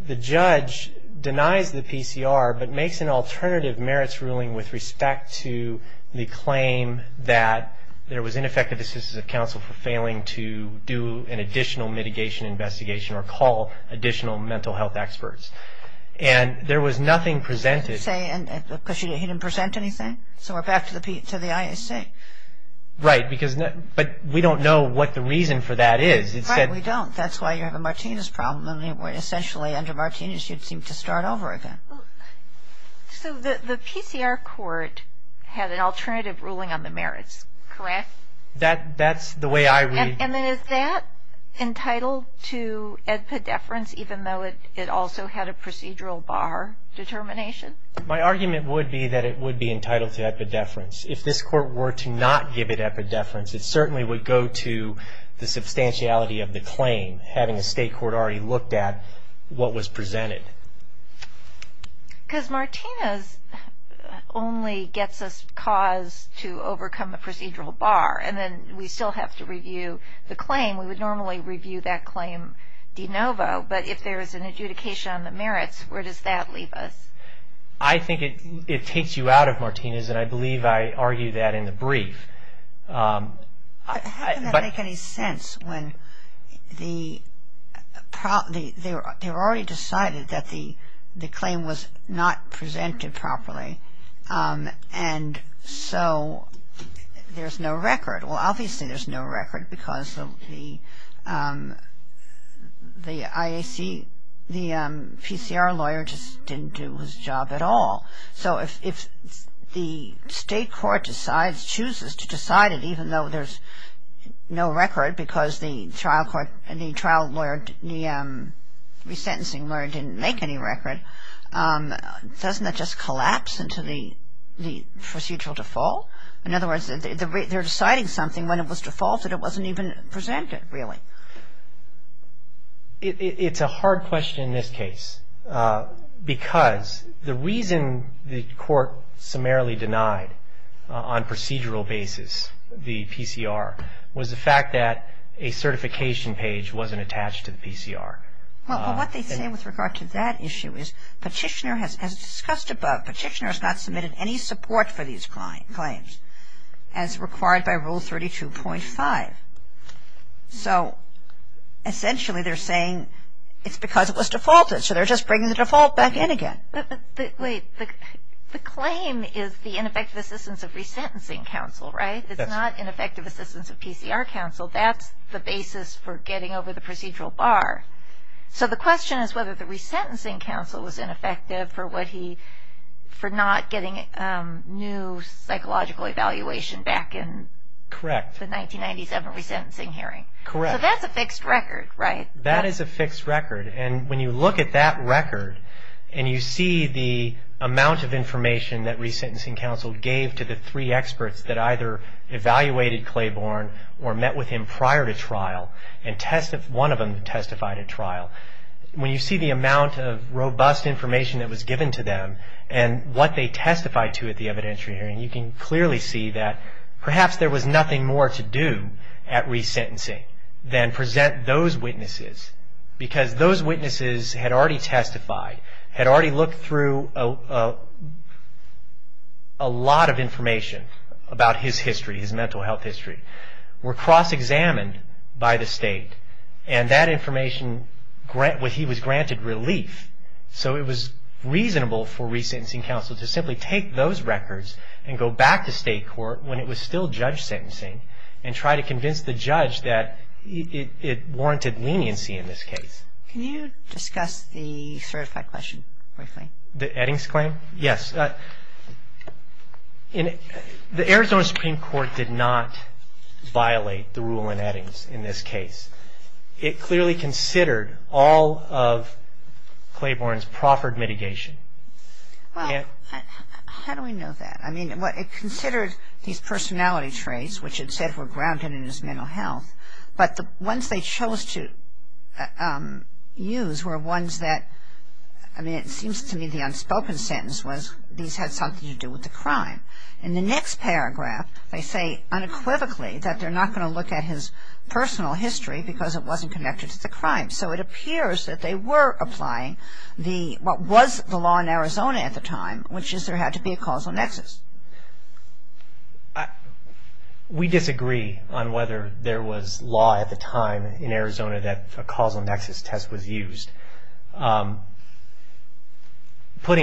the judge denies the PCR but makes an alternative merits ruling with respect to the claim that there was ineffective assistance of counsel for failing to do an additional mitigation investigation or call additional mental health experts. And there was nothing presented. Because he didn't present anything? So we're back to the IAC. Right, but we don't know what the reason for that is. Right, we don't. That's why you have a Martinez problem. Essentially under Martinez you'd seem to start over again. So the PCR court had an alternative ruling on the merits, correct? That's the way I read it. And then is that entitled to epidefference even though it also had a procedural bar determination? My argument would be that it would be entitled to epidefference if this court were to not give it epidefference. It certainly would go to the substantiality of the claim, having a State court already looked at what was presented. Because Martinez only gets us cause to overcome the procedural bar and then we still have to review the claim. We would normally review that claim de novo, but if there is an adjudication on the merits, where does that leave us? I think it takes you out of Martinez and I believe I argue that in the brief. How can that make any sense when they've already decided that the claim was not presented properly and so there's no record. Well, obviously there's no record because the IAC, the PCR lawyer just didn't do his job at all. So if the State court decides, chooses to decide it even though there's no record because the trial lawyer, the resentencing lawyer didn't make any record, doesn't that just collapse into the procedural default? In other words, they're deciding something when it was defaulted. It wasn't even presented really. It's a hard question in this case because the reason the court summarily denied on procedural basis the PCR was the fact that a certification page wasn't attached to the PCR. Well, what they say with regard to that issue is Petitioner has discussed above. Petitioner has not submitted any support for these claims as required by Rule 32.5. So essentially they're saying it's because it was defaulted. So they're just bringing the default back in again. But wait, the claim is the ineffective assistance of resentencing counsel, right? It's not ineffective assistance of PCR counsel. That's the basis for getting over the procedural bar. So the question is whether the resentencing counsel was ineffective for what he, for not getting new psychological evaluation back in the 1997 resentencing hearing. Correct. So that's a fixed record, right? That is a fixed record. And when you look at that record and you see the amount of information that resentencing counsel gave to the three experts that either evaluated Claiborne or met with him prior to trial and one of them testified at trial, when you see the amount of robust information that was given to them and what they testified to at the evidentiary hearing, you can clearly see that perhaps there was nothing more to do at resentencing than present those witnesses because those witnesses had already testified, had already looked through a lot of information about his history, his mental health history, were cross-examined by the state, and that information was granted relief. So it was reasonable for resentencing counsel to simply take those records and go back to state court when it was still judge sentencing and try to convince the judge that it warranted leniency in this case. Can you discuss the certified question briefly? The Eddings claim? Yes. The Arizona Supreme Court did not violate the rule in Eddings in this case. It clearly considered all of Claiborne's proffered mitigation. How do we know that? I mean, it considered his personality traits, which it said were grounded in his mental health, but the ones they chose to use were ones that, I mean, it seems to me the unspoken sentence was these had something to do with the crime. In the next paragraph, they say unequivocally that they're not going to look at his personal history because it wasn't connected to the crime. So it appears that they were applying what was the law in Arizona at the time, which is there had to be a causal nexus. We disagree on whether there was law at the time in Arizona that a causal nexus test was used. Putting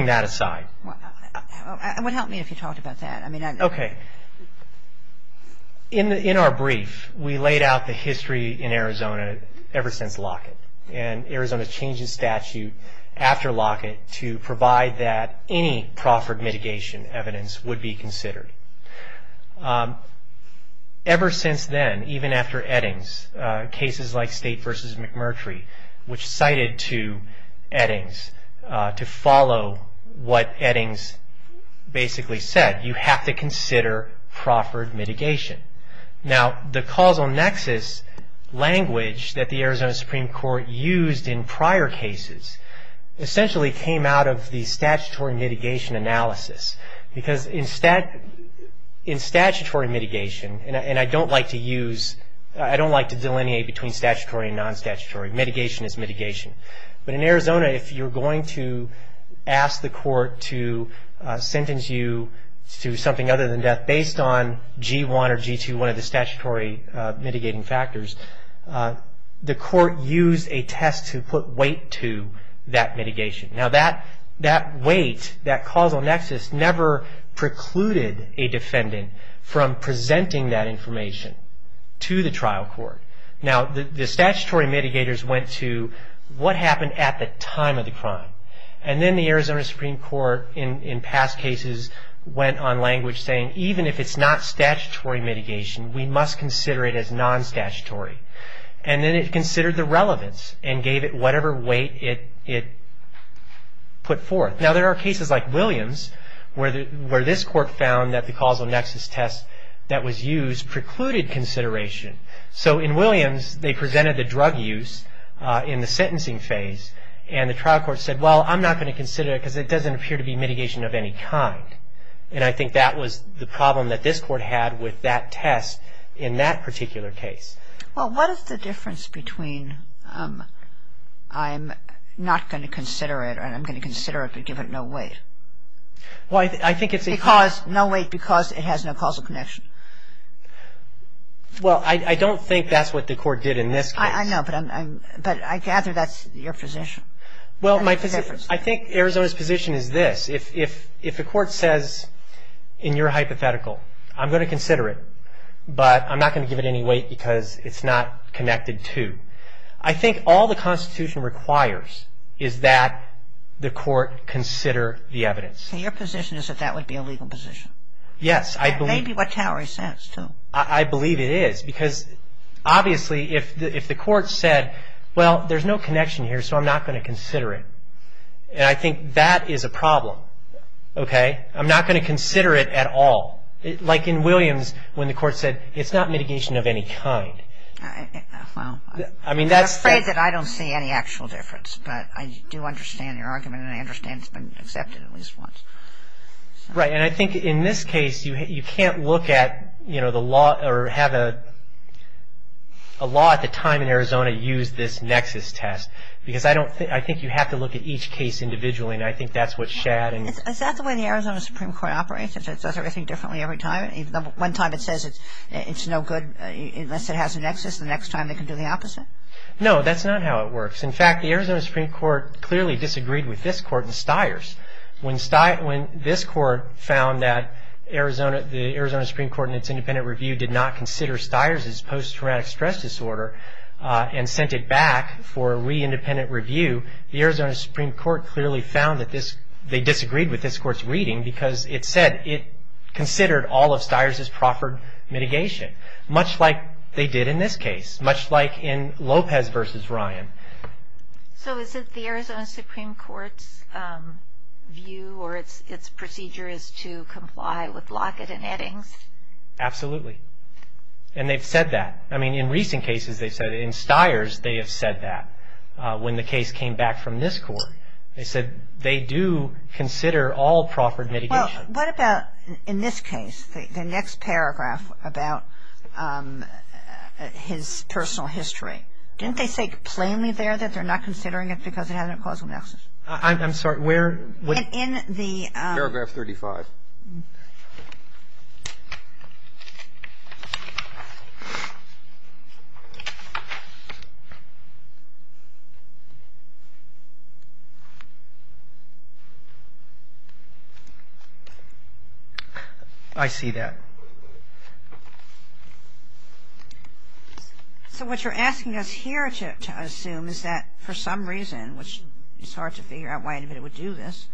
that aside. It would help me if you talked about that. Okay. In our brief, we laid out the history in Arizona ever since Lockett, and Arizona changes statute after Lockett to provide that any proffered mitigation evidence would be considered. Ever since then, even after Eddings, cases like State v. McMurtry, which cited to Eddings to follow what Eddings basically said, you have to consider proffered mitigation. Now, the causal nexus language that the Arizona Supreme Court used in prior cases essentially came out of the statutory mitigation analysis because in statutory mitigation, and I don't like to delineate between statutory and non-statutory. Mitigation is mitigation. But in Arizona, if you're going to ask the court to sentence you to something other than death based on G1 or G2, one of the statutory mitigating factors, the court used a test to put weight to that mitigation. Now, that weight, that causal nexus, never precluded a defendant from presenting that information to the trial court. Now, the statutory mitigators went to what happened at the time of the crime. And then the Arizona Supreme Court, in past cases, went on language saying even if it's not statutory mitigation, we must consider it as non-statutory. And then it considered the relevance and gave it whatever weight it put forth. Now, there are cases like Williams where this court found that the causal nexus test that was used precluded consideration. So in Williams, they presented the drug use in the sentencing phase, and the trial court said, well, I'm not going to consider it because it doesn't appear to be mitigation of any kind. And I think that was the problem that this court had with that test in that particular case. Well, what is the difference between I'm not going to consider it and I'm going to consider it but give it no weight? Well, I think it's a cause. No weight because it has no causal connection. Well, I don't think that's what the court did in this case. I know, but I gather that's your position. Well, I think Arizona's position is this. If the court says in your hypothetical, I'm going to consider it, but I'm not going to give it any weight because it's not connected to. I think all the Constitution requires is that the court consider the evidence. So your position is that that would be a legal position? Yes. Maybe what Towery says, too. I believe it is because, obviously, if the court said, well, there's no connection here, so I'm not going to consider it, and I think that is a problem, okay? I'm not going to consider it at all. Like in Williams, when the court said, it's not mitigation of any kind. Well, I'm afraid that I don't see any actual difference, but I do understand your argument and I understand it's been accepted at least once. Right, and I think in this case, you can't look at the law or have a law at the time in Arizona use this nexus test because I think you have to look at each case individually, and I think that's what Shadd. Is that the way the Arizona Supreme Court operates? It does everything differently every time? One time it says it's no good unless it has a nexus. The next time they can do the opposite? No, that's not how it works. In fact, the Arizona Supreme Court clearly disagreed with this court in Stiers. When this court found that the Arizona Supreme Court in its independent review did not consider Stiers as post-traumatic stress disorder and sent it back for re-independent review, the Arizona Supreme Court clearly found that they disagreed with this court's reading because it said it considered all of Stiers as proper mitigation, much like they did in this case, much like in Lopez v. Ryan. So is it the Arizona Supreme Court's view or its procedure is to comply with Lockett and Eddings? Absolutely, and they've said that. I mean, in recent cases they've said it. In Stiers they have said that. When the case came back from this court, they said they do consider all proper mitigation. Well, what about in this case, the next paragraph about his personal history? Didn't they say plainly there that they're not considering it because it has a causal nexus? I'm sorry, where? In the paragraph 35. I see that. So what you're asking us here to assume is that for some reason, which it's hard to figure out why anybody would do this,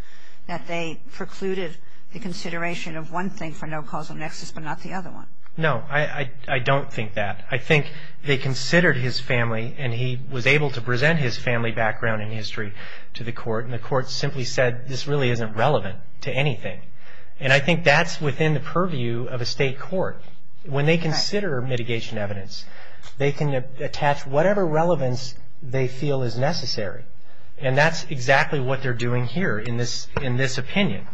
that they precluded the consideration of one thing for no causal nexus but not the other one. No, I don't think that. I think they considered his family and he was able to present his family background and history to the court and the court simply said this really isn't relevant to anything. And I think that's within the purview of a state court. When they consider mitigation evidence, they can attach whatever relevance they feel is necessary. And that's exactly what they're doing here in this opinion.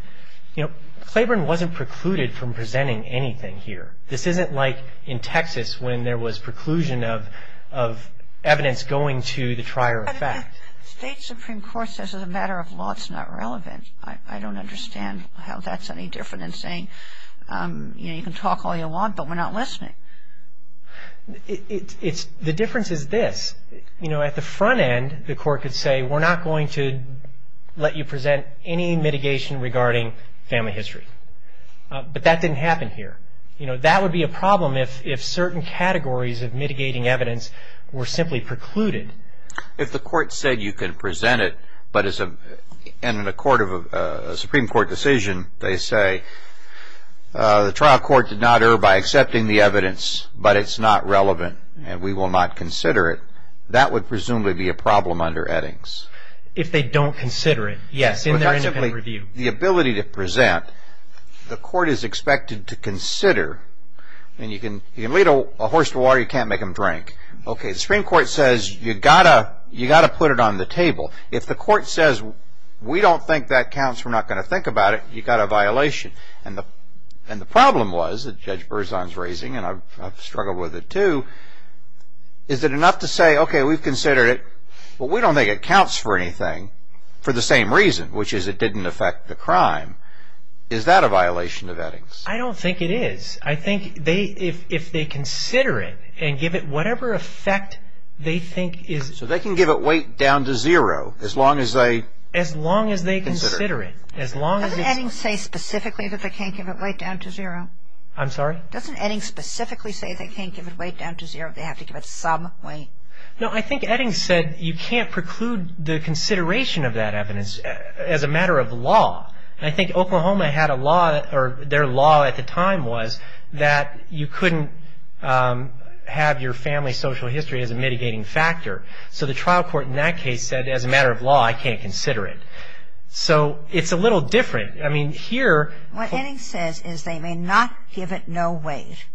You know, Claiborne wasn't precluded from presenting anything here. This isn't like in Texas when there was preclusion of evidence going to the trier of fact. But the state supreme court says as a matter of law it's not relevant. I don't understand how that's any different than saying, you know, you can talk all you want but we're not listening. The difference is this. You know, at the front end, the court could say, we're not going to let you present any mitigation regarding family history. But that didn't happen here. You know, that would be a problem if certain categories of mitigating evidence were simply precluded. If the court said you can present it but in a Supreme Court decision they say, the trial court did not err by accepting the evidence but it's not relevant and we will not consider it, that would presumably be a problem under Eddings. If they don't consider it, yes, in their independent review. The ability to present, the court is expected to consider, and you can lead a horse to water, you can't make him drink. Okay, the Supreme Court says you've got to put it on the table. If the court says we don't think that counts, we're not going to think about it, you've got a violation. And the problem was that Judge Berzon's raising, and I've struggled with it too, is that enough to say, okay, we've considered it, but we don't think it counts for anything for the same reason, which is it didn't affect the crime. Is that a violation of Eddings? I don't think it is. I think if they consider it and give it whatever effect they think is... So they can give it weight down to zero as long as they... As long as they consider it. Doesn't Eddings say specifically that they can't give it weight down to zero? I'm sorry? Doesn't Eddings specifically say they can't give it weight down to zero, they have to give it some weight? No, I think Eddings said you can't preclude the consideration of that evidence as a matter of law. And I think Oklahoma had a law, or their law at the time was, that you couldn't have your family's social history as a mitigating factor. So the trial court in that case said, as a matter of law, I can't consider it. So it's a little different. I mean, here... What Eddings says is they may not give it no weight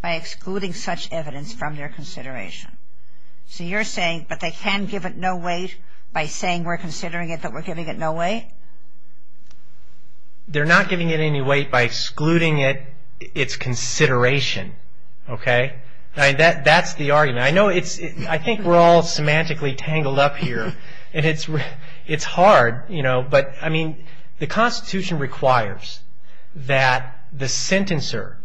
by excluding such evidence from their consideration. So you're saying, but they can give it no weight by saying we're considering it, that we're giving it no weight? They're not giving it any weight by excluding its consideration. Okay? That's the argument. I know it's... I think we're all semantically tangled up here. And it's hard, you know. But, I mean, the Constitution requires that the sentencer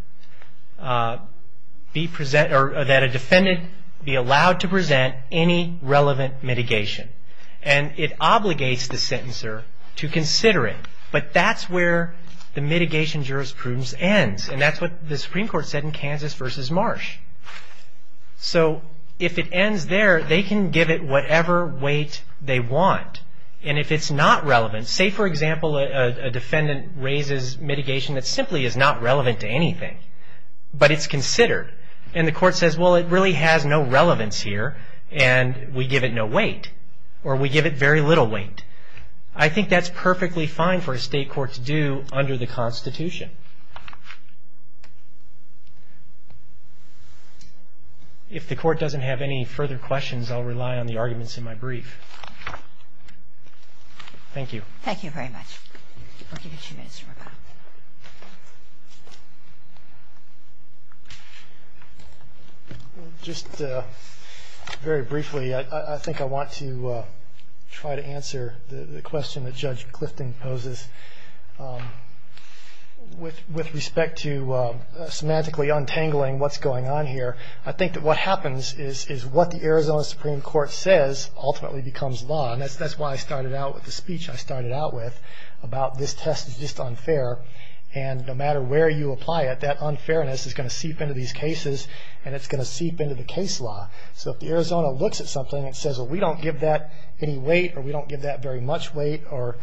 be present... or that a defendant be allowed to present any relevant mitigation. And it obligates the sentencer to consider it. But that's where the mitigation jurisprudence ends. And that's what the Supreme Court said in Kansas v. Marsh. So if it ends there, they can give it whatever weight they want. And if it's not relevant... Say, for example, a defendant raises mitigation that simply is not relevant to anything. But it's considered. And the court says, well, it really has no relevance here. And we give it no weight. Or we give it very little weight. I think that's perfectly fine for a state court to do under the Constitution. If the court doesn't have any further questions, I'll rely on the arguments in my brief. Thank you. Thank you very much. We'll give you two minutes for rebuttal. Just very briefly, I think I want to try to answer the question that Judge Clifton poses. With respect to semantically untangling what's going on here, I think that what happens is what the Arizona Supreme Court says ultimately becomes law. And that's why I started out with the speech I started out with about this test is just unfair. And no matter where you apply it, that unfairness is going to seep into these cases. And it's going to seep into the case law. So if the Arizona looks at something and says, well, we don't give that any weight. Or we don't give that very much weight. Or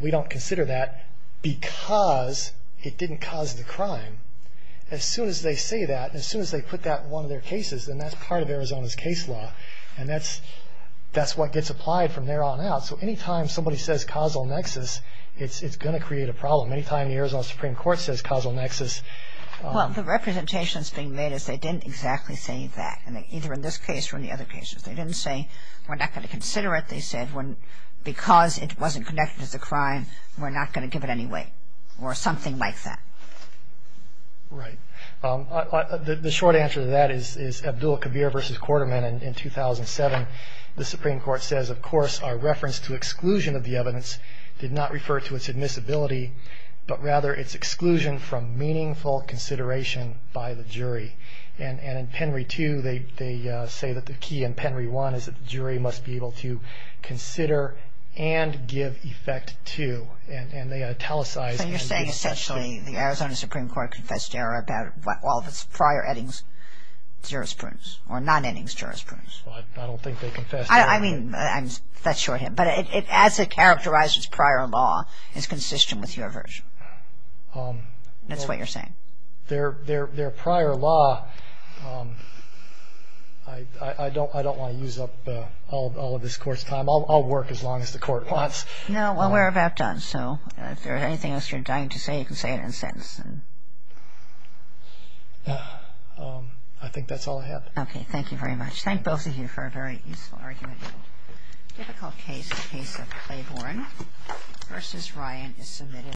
we don't consider that because it didn't cause the crime. As soon as they say that, as soon as they put that in one of their cases, then that's part of Arizona's case law. And that's what gets applied from there on out. So anytime somebody says causal nexus, it's going to create a problem. Anytime the Arizona Supreme Court says causal nexus. Well, the representations being made is they didn't exactly say that. And either in this case or in the other cases. They didn't say we're not going to consider it. Because it wasn't connected to the crime, we're not going to give it any weight. Or something like that. Right. The short answer to that is Abdul Kabir v. Quarterman in 2007. The Supreme Court says, of course, our reference to exclusion of the evidence did not refer to its admissibility, but rather its exclusion from meaningful consideration by the jury. And in Penry 2, they say that the key in Penry 1 is that the jury must be able to consider and give effect to. And they italicize. So you're saying essentially the Arizona Supreme Court confessed error about all of its prior ettings jurisprudence. Or non-ettings jurisprudence. I don't think they confessed error. I mean, that's shorthand. But as it characterizes prior law, it's consistent with your version. That's what you're saying. Their prior law... I don't want to use up all of this court's time. I'll work as long as the court wants. No, well, we're about done. So if there's anything else you're dying to say, you can say it in a sentence. I think that's all I have. Okay, thank you very much. Thank both of you for a very useful argument.